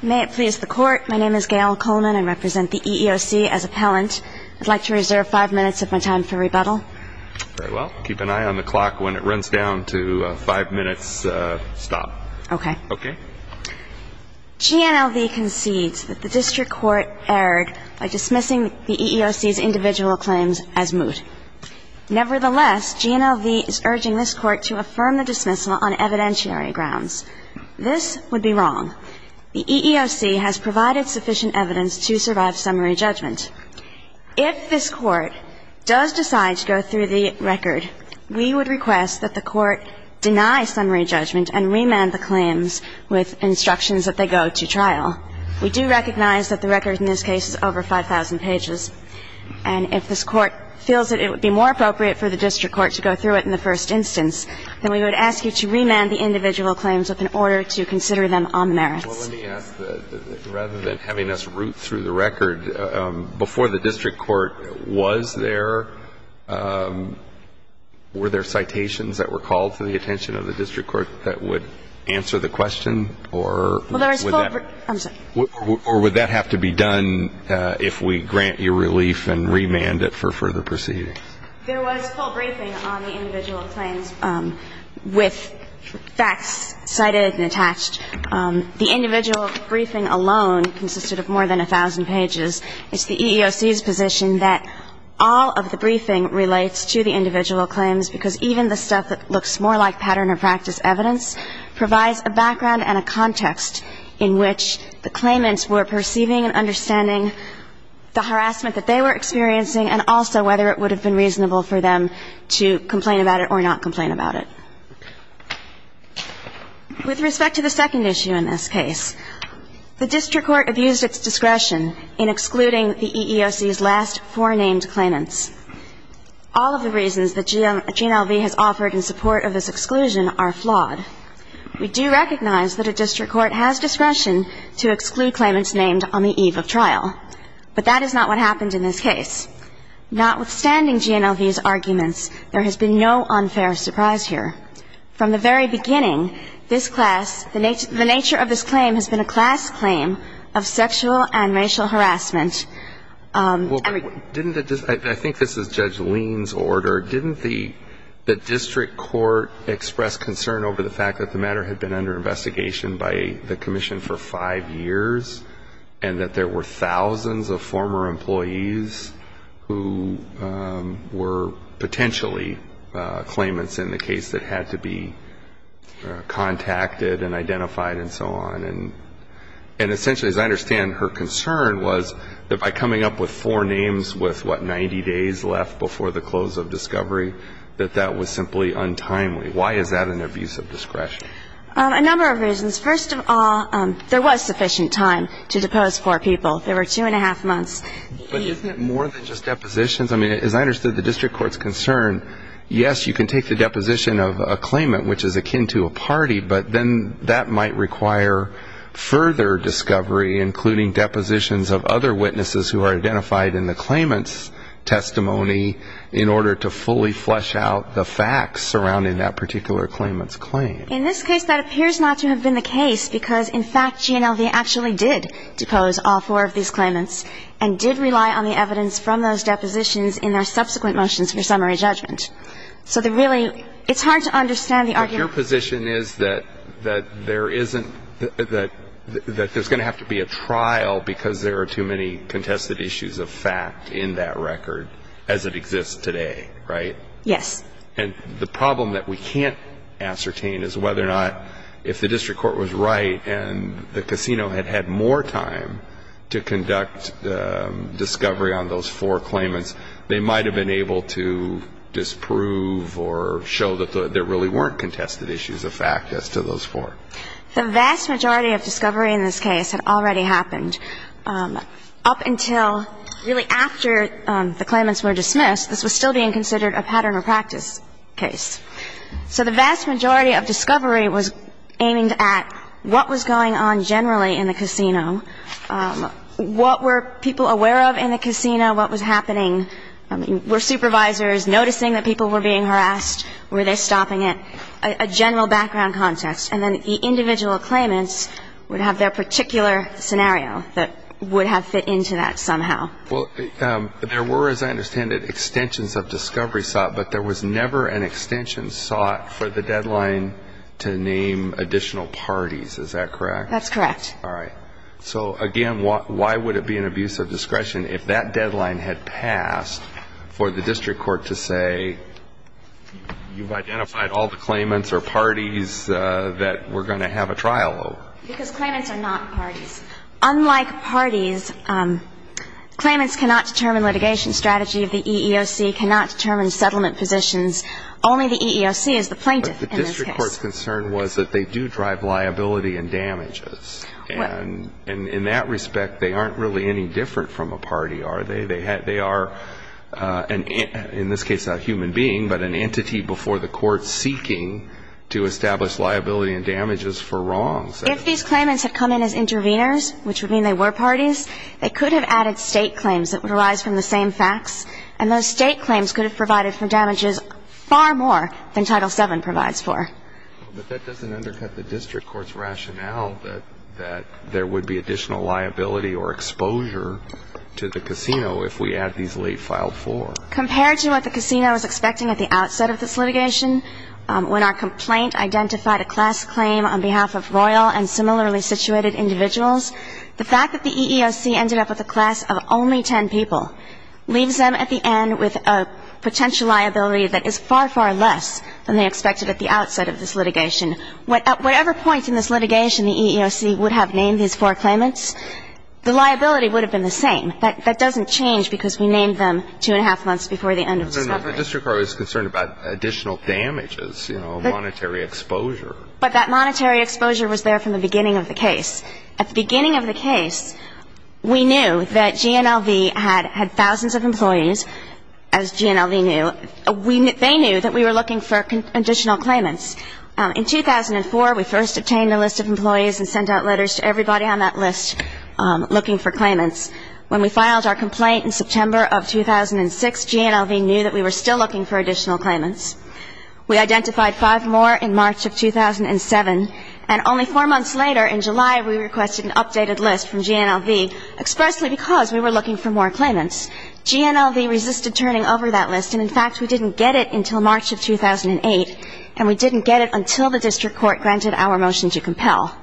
May it please the Court, my name is Gail Coleman. I represent the EEOC as appellant. I'd like to reserve five minutes of my time for rebuttal. Very well. Keep an eye on the clock when it runs down to five minutes stop. Okay. Okay. GNLV concedes that the District Court erred by dismissing the EEOC's individual claims as moot. Nevertheless, GNLV is urging this Court to consider the individual claims as moot. The EEOC has provided sufficient evidence to survive summary judgment. If this Court does decide to go through the record, we would request that the Court deny summary judgment and remand the claims with instructions that they go to trial. We do recognize that the record in this case is over 5,000 pages. And if this Court feels that it would be more appropriate for the District Court to go through it in the first instance, then we would ask you to remand the individual claims with an individual claim. Let me ask, rather than having us root through the record, before the District Court was there, were there citations that were called to the attention of the District Court that would answer the question? Or would that have to be done if we grant you relief and remand it for further proceedings? There was full briefing on the individual claims with facts cited and attached. The individual briefing alone consisted of more than 1,000 pages. It's the EEOC's position that all of the briefing relates to the individual claims, because even the stuff that looks more like pattern or practice evidence provides a background and a context in which the claimants were perceiving and understanding the harassment that they were experiencing and also whether it would have been reasonable for them to complain about it or not complain about it. With respect to the second issue in this case, the District Court abused its discretion in excluding the EEOC's last four named claimants. All of the reasons that GNLV has offered in support of this exclusion are flawed. We do recognize that a District Court has discretion to exclude claimants named on the eve of trial, but that is not what happened in this case. Notwithstanding GNLV's arguments, there has been no unfair surprise here. From the very beginning, this class, the nature of this claim has been a class claim of sexual and racial harassment. Well, didn't the, I think this is Judge Leen's order, didn't the District Court express concern over the fact that the matter had been under investigation by the Commission for five years and that there were thousands of former employees who were potentially claimants in the case that had to be contacted and identified and so on? And essentially, as I understand, her concern was that by coming up with four names with, what, 90 days left before the close of discovery, that that was simply untimely. Why is that an abuse of discretion? A number of reasons. First of all, there was sufficient time to depose four people. There were two and a half months. But isn't it more than just depositions? I mean, as I understood the District Court's concern, yes, you can take the deposition of a claimant, which is akin to a party, but then that might require further discovery, including depositions of other witnesses who are identified in the claimant's testimony in order to fully flesh out the facts surrounding that particular claimant's claim. In this case, that appears not to have been the case, because, in fact, GNLV actually did depose all four of these claimants and did rely on the evidence from those depositions in their subsequent motions for summary judgment. So the really, it's hard to understand the argument. But your position is that there isn't, that there's going to have to be a trial because there are too many contested issues of fact in that record as it exists today, right? Yes. And the problem that we can't ascertain is whether or not if the District Court was right and the casino had had more time to conduct discovery on those four claimants, they might have been able to disprove or show that there really weren't contested issues of fact as to those four. The vast majority of discovery in this case had already happened. Up until really after the claimants were dismissed, this was still being considered a pattern of practice case. So the vast majority of discovery was aiming at what was going on generally in the casino, what were people aware of in the casino, what was happening. I mean, were supervisors noticing that people were being harassed? Were they stopping it? A general background context. And then the individual claimants would have their particular scenario that would have fit into that somehow. Well, there were, as I understand it, extensions of discovery sought, but there was never an extension sought for the deadline to name additional parties. Is that correct? That's correct. All right. So again, why would it be an abuse of discretion if that deadline had passed for the District Court to say, you've identified all the claimants or parties that we're going to have a trial over? Because claimants are not parties. Unlike parties, claimants cannot determine litigation strategy of the EEOC, cannot determine settlement positions. Only the EEOC is the plaintiff in this case. But the District Court's concern was that they do drive liability and damages. And in that respect, they aren't really any different from a party, are they? They are, in this case, a human being, but an entity before the court seeking to establish liability and damages for wrongs. If these claimants had come in as interveners, which would mean they were parties, they could have added state claims that would arise from the same facts. And those state claims could have provided for damages far more than Title VII provides for. But that doesn't undercut the District Court's rationale that there would be additional liability or exposure to the casino if we add these late filed for. Compared to what the casino is expecting at the outset of this litigation, when our and similarly situated individuals, the fact that the EEOC ended up with a class of only ten people leaves them at the end with a potential liability that is far, far less than they expected at the outset of this litigation. At whatever point in this litigation the EEOC would have named these four claimants, the liability would have been the same. That doesn't change because we named them two and a half months before the end of discovery. But the District Court is concerned about additional damages, you know, monetary exposure. But that monetary exposure was there from the beginning of the case. At the beginning of the case, we knew that GNLV had thousands of employees, as GNLV knew. They knew that we were looking for additional claimants. In 2004, we first obtained a list of employees and sent out letters to everybody on that list looking for claimants. When we filed our complaint in September of 2006, GNLV knew that we were still looking for additional claimants. We identified five more in March of 2007, and only four months later in July, we requested an updated list from GNLV expressly because we were looking for more claimants. GNLV resisted turning over that list, and in fact, we didn't get it until March of 2008, and we didn't get it until the District Court granted our motion to compel.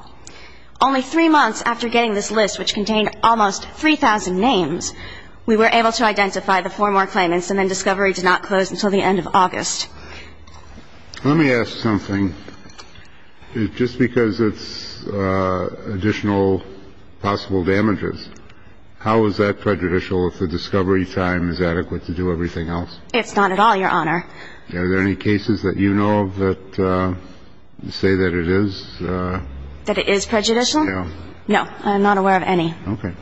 Only three months after getting this list, which contained almost 3,000 names, we were able to identify the four more claimants, and then discovery did not close until the end of August. Let me ask something. Just because it's additional possible damages, how is that prejudicial if the discovery time is adequate to do everything else? It's not at all, Your Honor. Are there any cases that you know of that say that it is? That it is prejudicial? No. No. I'm not aware of any. Okay.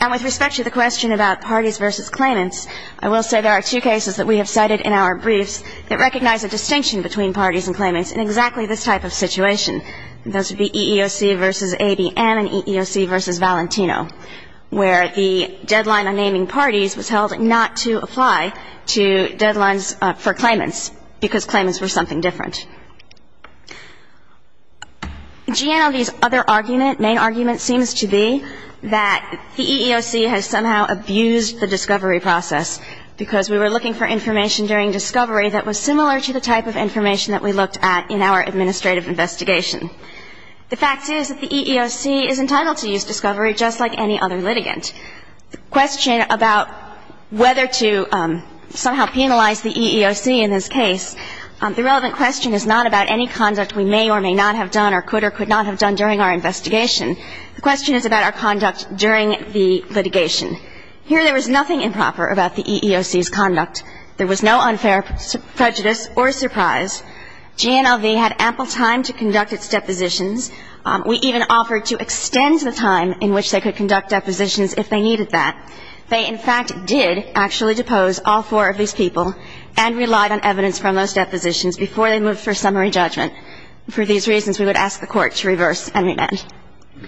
And with respect to the question about parties versus claimants, I will say there are two cases that we have cited in our briefs that recognize a distinction between parties and claimants in exactly this type of situation. Those would be EEOC versus ABM and EEOC versus Valentino, where the deadline on naming parties was held not to apply to deadlines for claimants because claimants were something different. GNOD's other argument, main argument seems to be that the EEOC has somehow abused the discovery process because we were looking for information during discovery that was similar to the type of information that we looked at in our administrative investigation. The fact is that the EEOC is entitled to use discovery just like any other litigant. The question about whether to somehow penalize the EEOC in this case, the relevant question is not about any conduct we may or may not have done or could or could not have done during our investigation. The question is about our conduct during the litigation. Here there was nothing improper about the EEOC's conduct. There was no unfair prejudice or surprise. GNLV had ample time to conduct its depositions. We even offered to extend the time in which they could conduct depositions if they needed that. They, in fact, did actually depose all four of these people and relied on evidence from those depositions before they moved for summary judgment. For these reasons, we would ask the Court to reverse and remand.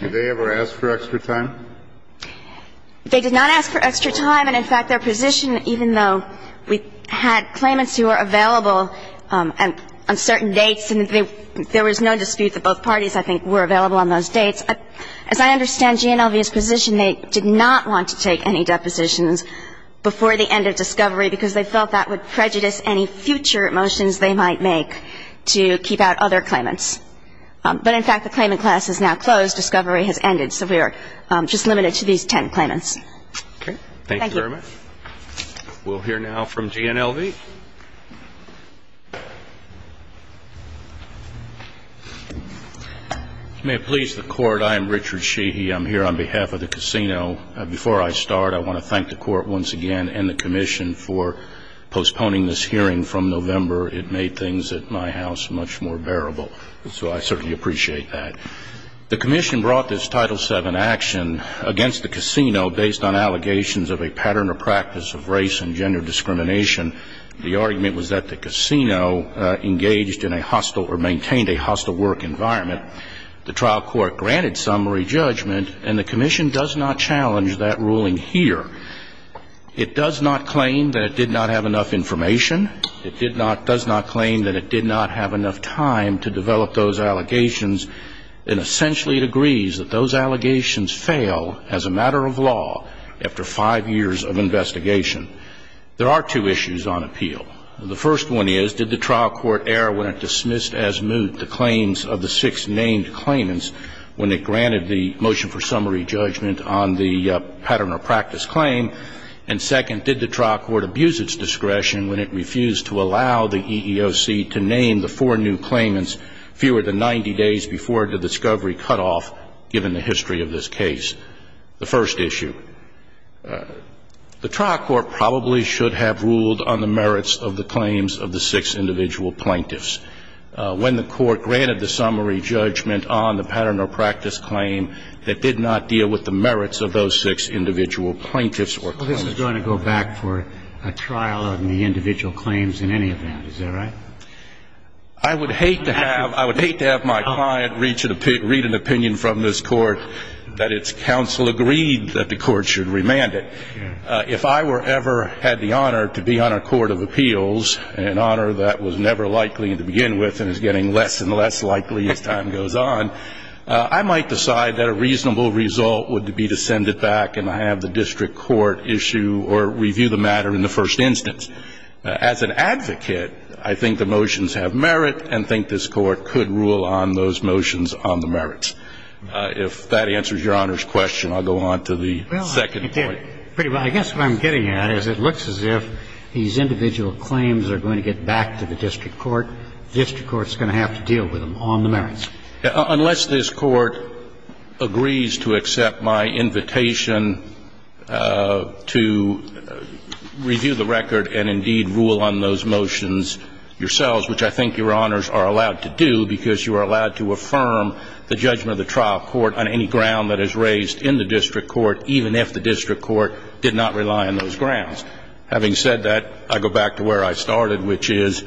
Did they ever ask for extra time? They did not ask for extra time. And, in fact, their position, even though we had claimants who were available on certain dates and there was no dispute that both parties, I think, were available on those dates, as I understand GNLV's position, they did not want to take any depositions before the end of discovery because they felt that would prejudice any future motions they might make to keep out other claimants. But, in fact, the claimant class is now closed. Discovery has ended. So we are just limited to these ten claimants. Okay. Thank you very much. We'll hear now from GNLV. May it please the Court, I am Richard Sheehy. I'm here on behalf of the casino. Before I start, I want to thank the Court once again and the Commission for postponing this hearing from November. It made things at my house much more bearable. So I certainly appreciate that. The Commission brought this Title VII action against the casino based on allegations of a pattern or practice of race and gender discrimination. The argument was that the casino engaged in a hostile or maintained a hostile work environment. The trial court granted summary judgment and the Commission does not challenge that ruling here. It does not claim that it did not have enough information. It did not, does not claim that it did not have enough time to develop those allegations. And essentially it agrees that those allegations fail as a matter of law after five years of investigation. There are two issues on appeal. The first one is, did the trial court err when it dismissed as moot the claims of the six named claimants when it granted the motion for summary judgment on the pattern or practice claim? And second, did the trial court abuse its discretion when it refused to allow the EEOC to name the four new claimants fewer than 90 days before the discovery cutoff given the history of this case? The first issue, the trial court probably should have ruled on the merits of the claims of the six individual plaintiffs. When the court granted the summary judgment on the pattern or practice claim, it did not deal with the merits of those six individual plaintiffs or claims. This is going to go back for a trial on the individual claims in any event, is that right? I would hate to have my client read an opinion from this Court that its counsel agreed that the Court should remand it. If I were ever had the honor to be on a court of appeals and an honor that was never likely to begin with and is getting less and less likely as time goes on, I might decide that a reasonable result would be to send it back and have the district court issue or review the matter in the first instance. As an advocate, I think the motions have merit and think this Court could rule on those motions on the merits. If that answers Your Honor's question, I'll go on to the second point. I guess what I'm getting at is it looks as if these individual claims are going to get back to the district court. The district court is going to have to deal with them on the merits. Unless this Court agrees to accept my invitation to review the record and, indeed, rule on those motions yourselves, which I think Your Honors are allowed to do because you are allowed to affirm the judgment of the trial court on any ground that is raised in the district court, even if the district court did not rely on those grounds. Having said that, I go back to where I started, which is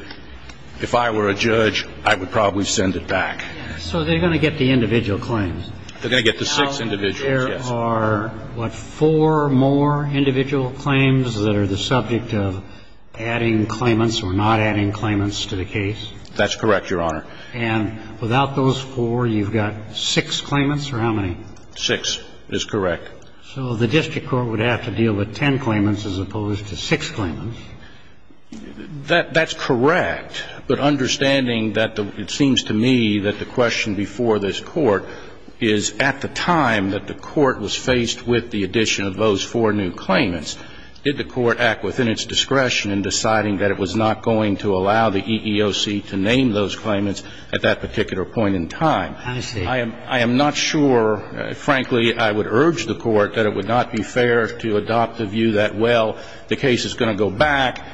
if I were a judge, I would probably send it back. So they're going to get the individual claims? They're going to get the six individuals, yes. There are, what, four more individual claims that are the subject of adding claimants or not adding claimants to the case? That's correct, Your Honor. And without those four, you've got six claimants, or how many? Six is correct. So the district court would have to deal with ten claimants as opposed to six claimants? That's correct. But understanding that the – it seems to me that the question before this Court is, at the time that the Court was faced with the addition of those four new claimants, did the Court act within its discretion in deciding that it was not going to allow the EEOC to name those claimants at that particular point in time? I see. I am not sure, frankly, I would urge the Court that it would not be fair to adopt a view that, well, the case is going to go back.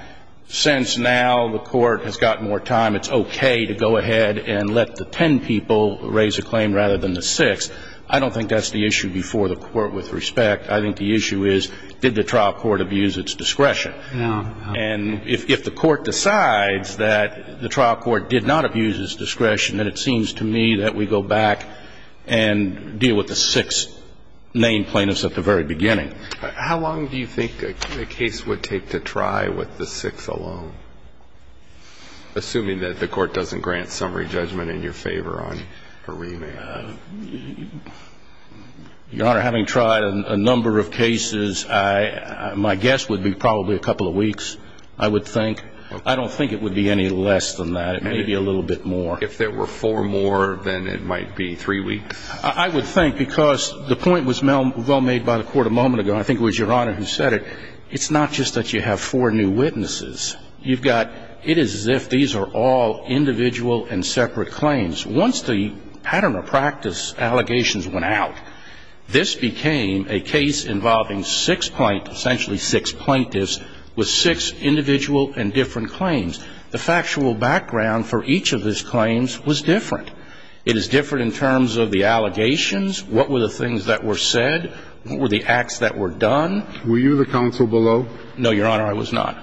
Since now the Court has got more time, it's okay to go ahead and let the ten people raise a claim rather than the six. I don't think that's the issue before the Court with respect. I think the issue is, did the trial court abuse its discretion? And if the Court decides that the trial court did not abuse its discretion, then it seems to me that we go back and deal with the six named plaintiffs at the very beginning. How long do you think a case would take to try with the six alone, assuming that the Court doesn't grant summary judgment in your favor on a remand? Your Honor, having tried a number of cases, my guess would be probably a couple of weeks, I would think. I don't think it would be any less than that, maybe a little bit more. If there were four more, then it might be three weeks. I would think, because the point was well made by the Court a moment ago, and I think it was Your Honor who said it, it's not just that you have four new witnesses. You've got, it is as if these are all individual and separate claims. Once the pattern of practice allegations went out, this became a case involving six plaintiffs, essentially six plaintiffs, with six individual and different claims. The factual background for each of these claims was different. It is different in terms of the allegations, what were the things that were said, what were the acts that were done. Were you the counsel below? No, Your Honor, I was not.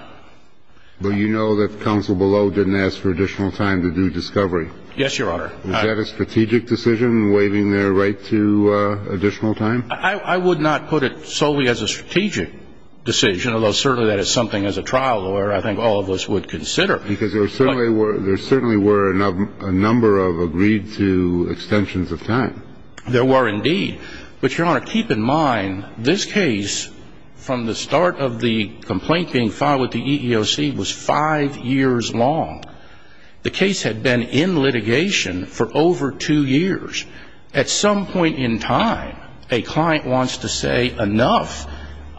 But you know that the counsel below didn't ask for additional time to do discovery. Yes, Your Honor. Was that a strategic decision, waiving their right to additional time? I would not put it solely as a strategic decision, although certainly that is something as a trial lawyer I think all of us would consider. Because there certainly were a number of agreed to extensions of time. There were indeed. But Your Honor, keep in mind, this case from the start of the complaint being filed with the EEOC was five years long. The case had been in litigation for over two years. At some point in time, a client wants to say, enough,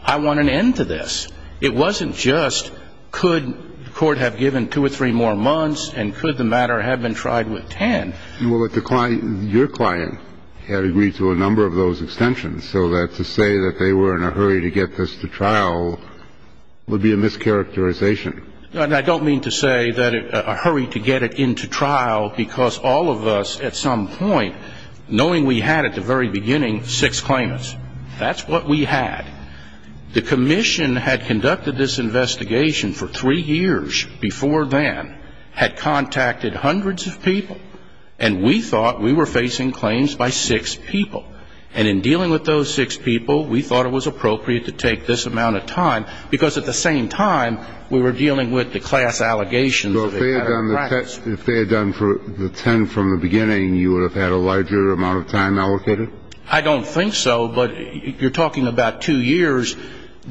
I want an end to this. It wasn't just, could the court have given two or three more months, and could the matter have been tried with ten? Well, your client had agreed to a number of those extensions. So to say that they were in a hurry to get this to trial would be a mischaracterization. I don't mean to say that a hurry to get it into trial, because all of us at some point, knowing we had at the very beginning six claimants, that's what we had. The commission had conducted this investigation for three years before then, had contacted hundreds of people, and we thought we were facing claims by six people. And in dealing with those six people, we thought it was appropriate to take this amount of time, because at the same time, we were dealing with the class allegations of a matter of practice. So if they had done the ten from the beginning, you would have had a larger amount of time allocated? I don't think so, but you're talking about two years.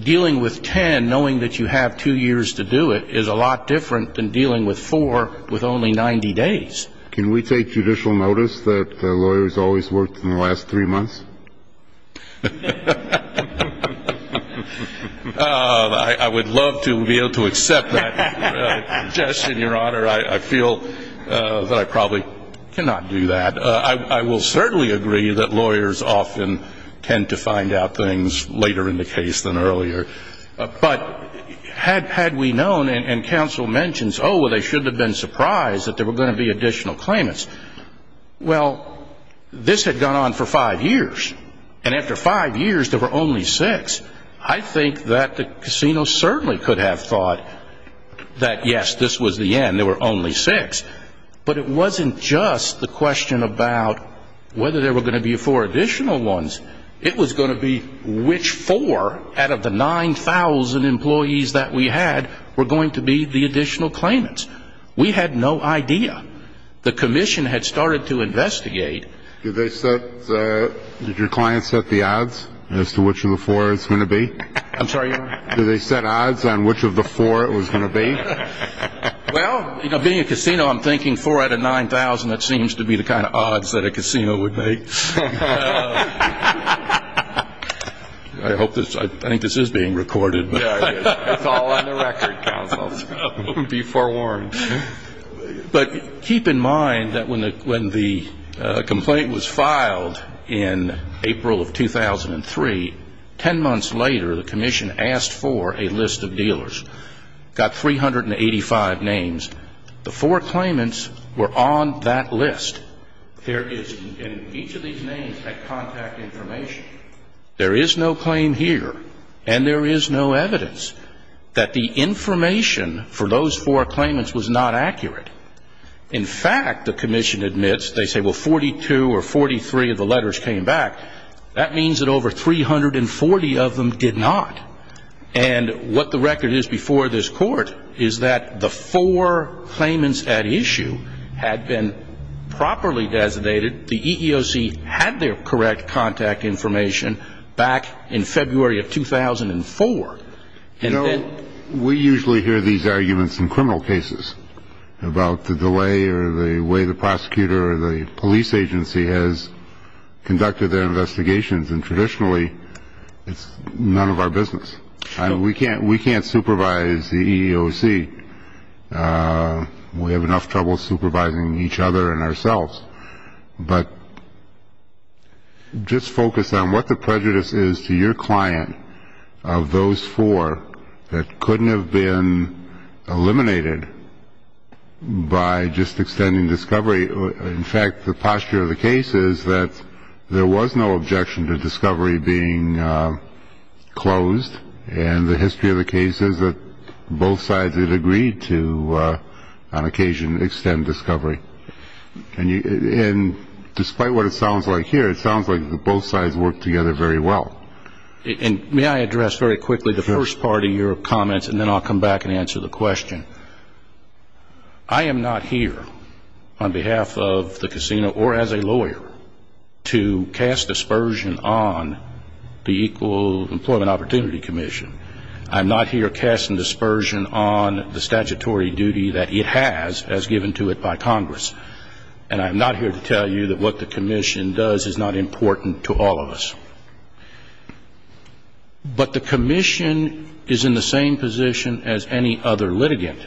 Dealing with ten, knowing that you have two years to do it, is a lot different than dealing with four with only 90 days. Can we take judicial notice that a lawyer has always worked in the last three months? I would love to be able to accept that suggestion, Your Honor. I feel that I probably cannot do that. But I will certainly agree that lawyers often tend to find out things later in the case than earlier. But had we known, and counsel mentions, oh, well, they shouldn't have been surprised that there were going to be additional claimants, well, this had gone on for five years. And after five years, there were only six. I think that the casino certainly could have thought that, yes, this was the end, there were only six. But it wasn't just the question about whether there were going to be four additional ones. It was going to be which four out of the 9,000 employees that we had were going to be the additional claimants. We had no idea. The commission had started to investigate. Did they set, did your client set the odds as to which of the four it was going to be? I'm sorry, Your Honor? Did they set odds on which of the four it was going to be? Well, you know, being a casino, I'm thinking four out of 9,000, that seems to be the kind of odds that a casino would make. I hope this, I think this is being recorded. Yeah, it is. It's all on the record, counsel. Be forewarned. But keep in mind that when the complaint was filed in April of 2003, ten months later, the commission asked for a list of dealers. Got 385 names. The four claimants were on that list. There is, and each of these names had contact information. There is no claim here, and there is no evidence that the information for those four claimants was not accurate. In fact, the commission admits, they say, well, 42 or 43 of the letters came back. That means that over 340 of them did not. And what the record is before this court is that the four claimants at issue had been properly designated. The EEOC had their correct contact information back in February of 2004, and then You know, we usually hear these arguments in criminal cases about the delay or the way the prosecutor or the police agency has conducted their investigations, and traditionally it's none of our business. I mean, we can't we can't supervise the EEOC. We have enough trouble supervising each other and ourselves, but just focus on what the prejudice is to your client of those four that couldn't have been eliminated by just extending discovery. In fact, the posture of the case is that there was no objection to discovery being closed, and the history of the case is that both sides had agreed to, on occasion, extend discovery. And despite what it sounds like here, it sounds like both sides worked together very well. And may I address very quickly the first part of your comments, and then I'll come back and answer the question. I am not here on behalf of the casino or as a lawyer to cast dispersion on the Equal Employment Opportunity Commission. I'm not here casting dispersion on the statutory duty that it has as given to it by Congress. And I'm not here to tell you that what the commission does is not important to all of us. But the commission is in the same position as any other litigant.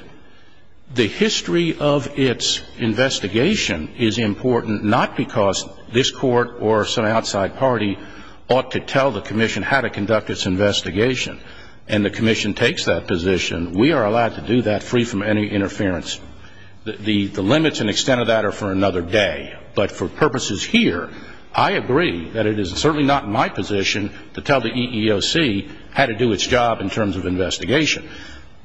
The history of its investigation is important not because this court or some outside party ought to tell the commission how to conduct its investigation, and the commission takes that position. We are allowed to do that free from any interference. The limits and extent of that are for another day. But for purposes here, I agree that it is certainly not my position to tell the EEOC how to do its job in terms of investigation.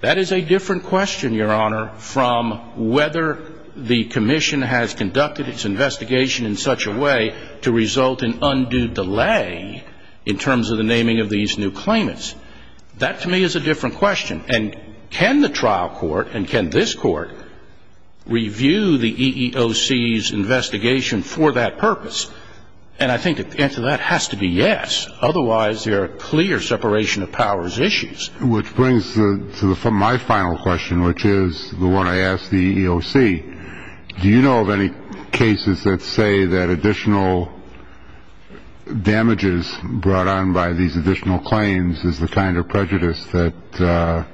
That is a different question, Your Honor, from whether the commission has conducted its investigation in such a way to result in undue delay in terms of the naming of these new claimants. That to me is a different question. And can the trial court and can this court review the EEOC's investigation for that purpose? And I think the answer to that has to be yes. Otherwise, there are clear separation of powers issues. Which brings to my final question, which is the one I asked the EEOC, do you know of any cases that say that additional damages brought on by these additional claims is the kind of prejudice that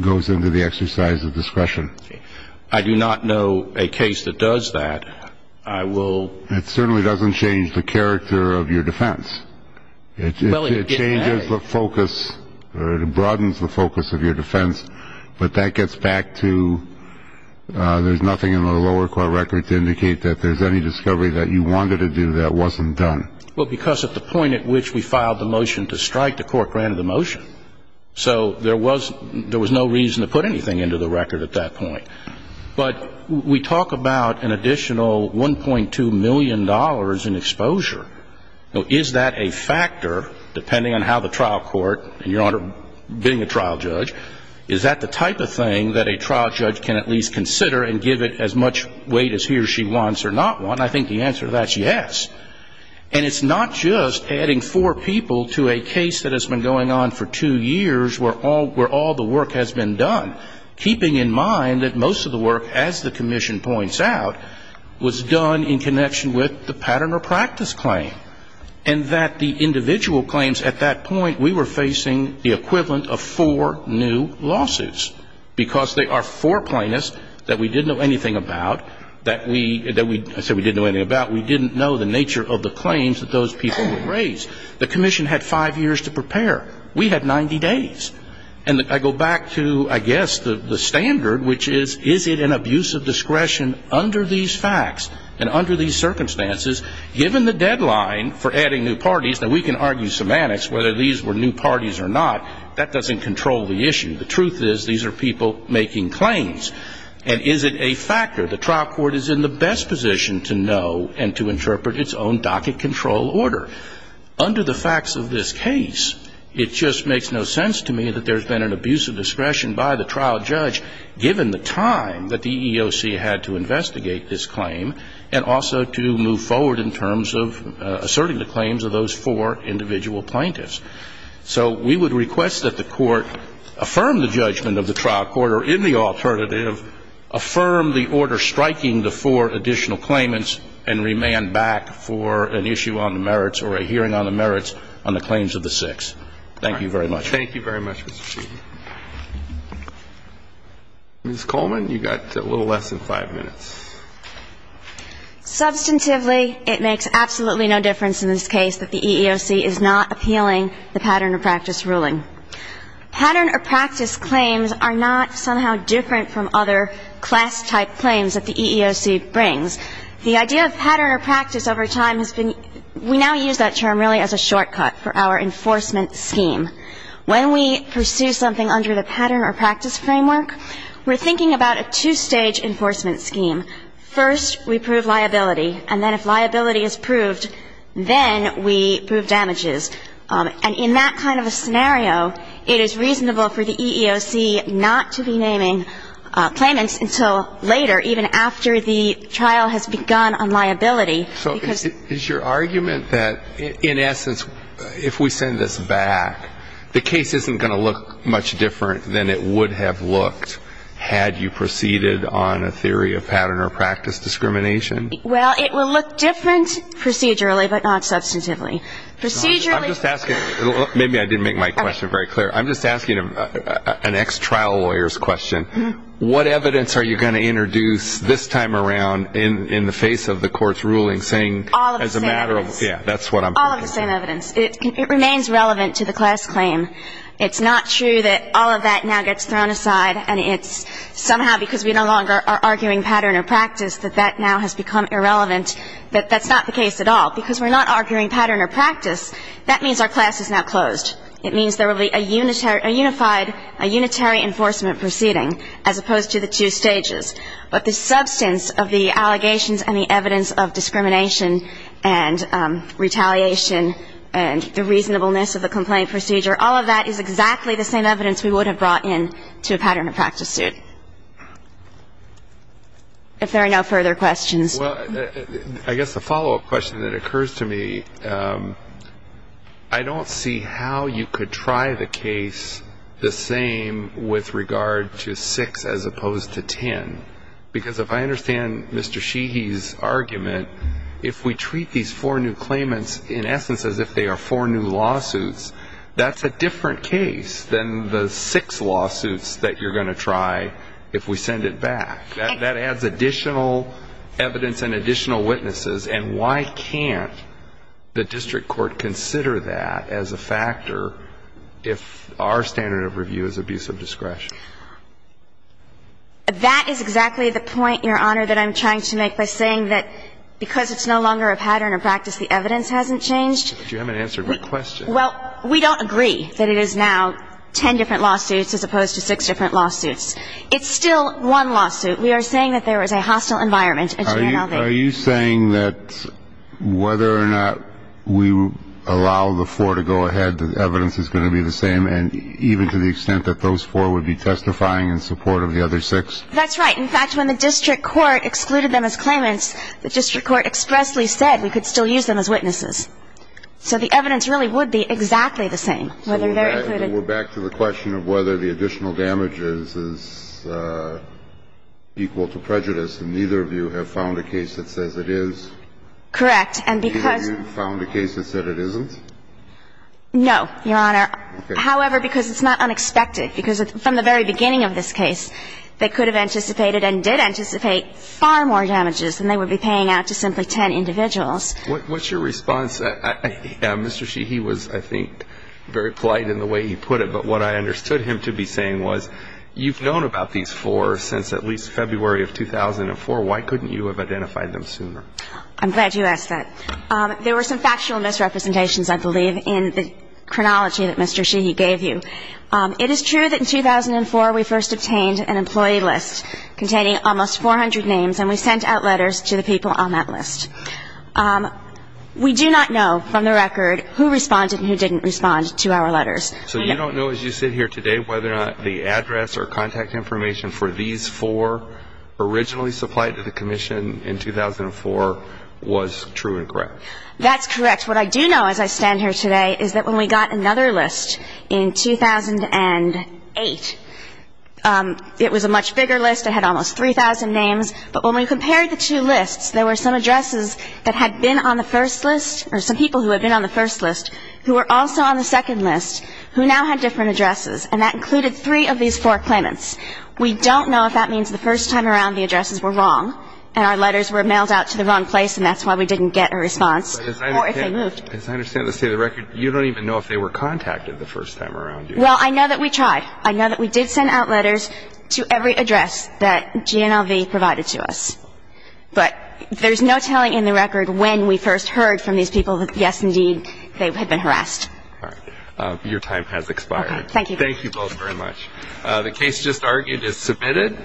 goes into the exercise of discretion? I do not know a case that does that. I will. It certainly doesn't change the character of your defense. It changes the focus or it broadens the focus of your defense. But that gets back to there's nothing in the lower court record to indicate that there's any discovery that you wanted to do that wasn't done. Well, because at the point at which we filed the motion to strike, the court granted the motion. So there was no reason to put anything into the record at that point. But we talk about an additional $1.2 million in exposure. Is that a factor, depending on how the trial court and your Honor, being a trial judge, is that the type of thing that a trial judge can at least consider and give it as much weight as he or she wants or not want? And I think the answer to that is yes. And it's not just adding four people to a case that has been going on for two years where all the work has been done, keeping in mind that most of the work, as the Commission points out, was done in connection with the pattern or practice claim. And that the individual claims at that point, we were facing the equivalent of four new lawsuits. Because they are four plaintiffs that we didn't know anything about, that we, I said we didn't know anything about, we didn't know the nature of the claims that those people would raise. The Commission had five years to prepare. We had 90 days. And I go back to, I guess, the standard, which is, is it an abuse of discretion under these facts and under these circumstances, given the deadline for adding new parties? Now, we can argue semantics, whether these were new parties or not, that doesn't control the issue. The truth is, these are people making claims. And is it a factor? The trial court is in the best position to know and to interpret its own docket control order. Under the facts of this case, it just makes no sense to me that there's been an abuse of discretion by the trial judge, given the time that the EEOC had to investigate this claim, and also to move forward in terms of asserting the claims of those four individual plaintiffs. So we would request that the court affirm the judgment of the trial court, or in the alternative, affirm the order striking the four additional claimants, and remand back for an issue on the merits or a hearing on the merits on the claims of the six. Thank you very much. Thank you very much, Mr. Chief. Ms. Coleman, you've got a little less than five minutes. Substantively, it makes absolutely no difference in this case that the EEOC is not appealing the pattern of practice ruling. Pattern or practice claims are not somehow different from other class-type claims that the EEOC brings. The idea of pattern or practice over time has been we now use that term really as a shortcut for our enforcement scheme. When we pursue something under the pattern or practice framework, we're thinking about a two-stage enforcement scheme. First, we prove liability, and then if liability is proved, then we prove damages. And in that kind of a scenario, it is reasonable for the EEOC not to be naming claimants until later, even after the trial has begun on liability. So is your argument that, in essence, if we send this back, the case isn't going to look much different than it would have looked had you proceeded on a theory of pattern or practice discrimination? Well, it will look different procedurally, but not substantively. I'm just asking, maybe I didn't make my question very clear. I'm just asking an ex-trial lawyer's question. What evidence are you going to introduce this time around in the face of the court's ruling saying as a matter of, yeah, that's what I'm talking about. All of the same evidence. It remains relevant to the class claim. It's not true that all of that now gets thrown aside, and it's somehow because we no longer are arguing pattern or practice that that now has become irrelevant. That's not the case at all. Because we're not arguing pattern or practice, that means our class is now closed. It means there will be a unified, a unitary enforcement proceeding as opposed to the two stages. But the substance of the allegations and the evidence of discrimination and retaliation and the reasonableness of the complaint procedure, all of that is exactly the same evidence we would have brought in to a pattern or practice suit. If there are no further questions. Well, I guess the follow-up question that occurs to me, I don't see how you could try the case the same with regard to six as opposed to ten. Because if I understand Mr. Sheehy's argument, if we treat these four new claimants in essence as if they are four new lawsuits, that's a different case than the six lawsuits that you're going to try if we send it back. That adds additional evidence and additional witnesses, and why can't the district court consider that as a factor if our standard of review is abuse of discretion? That is exactly the point, Your Honor, that I'm trying to make by saying that because it's no longer a pattern or practice, the evidence hasn't changed. But you haven't answered my question. Well, we don't agree that it is now ten different lawsuits as opposed to six different lawsuits. It's still one lawsuit. We are saying that there is a hostile environment at GNLV. Are you saying that whether or not we allow the four to go ahead, the evidence is going to be the same, even to the extent that those four would be testifying in support of the other six? That's right. In fact, when the district court excluded them as claimants, the district court expressly said we could still use them as witnesses. So the evidence really would be exactly the same, whether they're included. So we're back to the question of whether the additional damages is equal to prejudice, and neither of you have found a case that says it is? Correct. And because you found a case that said it isn't? No, Your Honor. Okay. However, because it's not unexpected, because from the very beginning of this case, they could have anticipated and did anticipate far more damages than they would be paying out to simply ten individuals. What's your response? Mr. Sheehy was, I think, very polite in the way he put it, but what I understood him to be saying was, you've known about these four since at least February of 2004. Why couldn't you have identified them sooner? I'm glad you asked that. There were some factual misrepresentations, I believe, in the chronology that Mr. Sheehy gave you. It is true that in 2004 we first obtained an employee list containing almost 400 names, and we sent out letters to the people on that list. We do not know from the record who responded and who didn't respond to our letters. So you don't know as you sit here today whether or not the address or contact information for these four originally supplied to the commission in 2004 was true and correct? That's correct. What I do know as I stand here today is that when we got another list in 2008, it was a much bigger list. It had almost 3,000 names. But when we compared the two lists, there were some addresses that had been on the first list or some people who had been on the first list who were also on the second list who now had different addresses, and that included three of these four claimants. We don't know if that means the first time around the addresses were wrong and our letters were mailed out to the wrong place and that's why we didn't get a response or if they moved. As I understand the state of the record, you don't even know if they were contacted the first time around. Well, I know that we tried. I know that we did send out letters to every address that GNLV provided to us. But there's no telling in the record when we first heard from these people that, yes, indeed, they had been harassed. All right. Your time has expired. Thank you. Thank you both very much. The case just argued is submitted.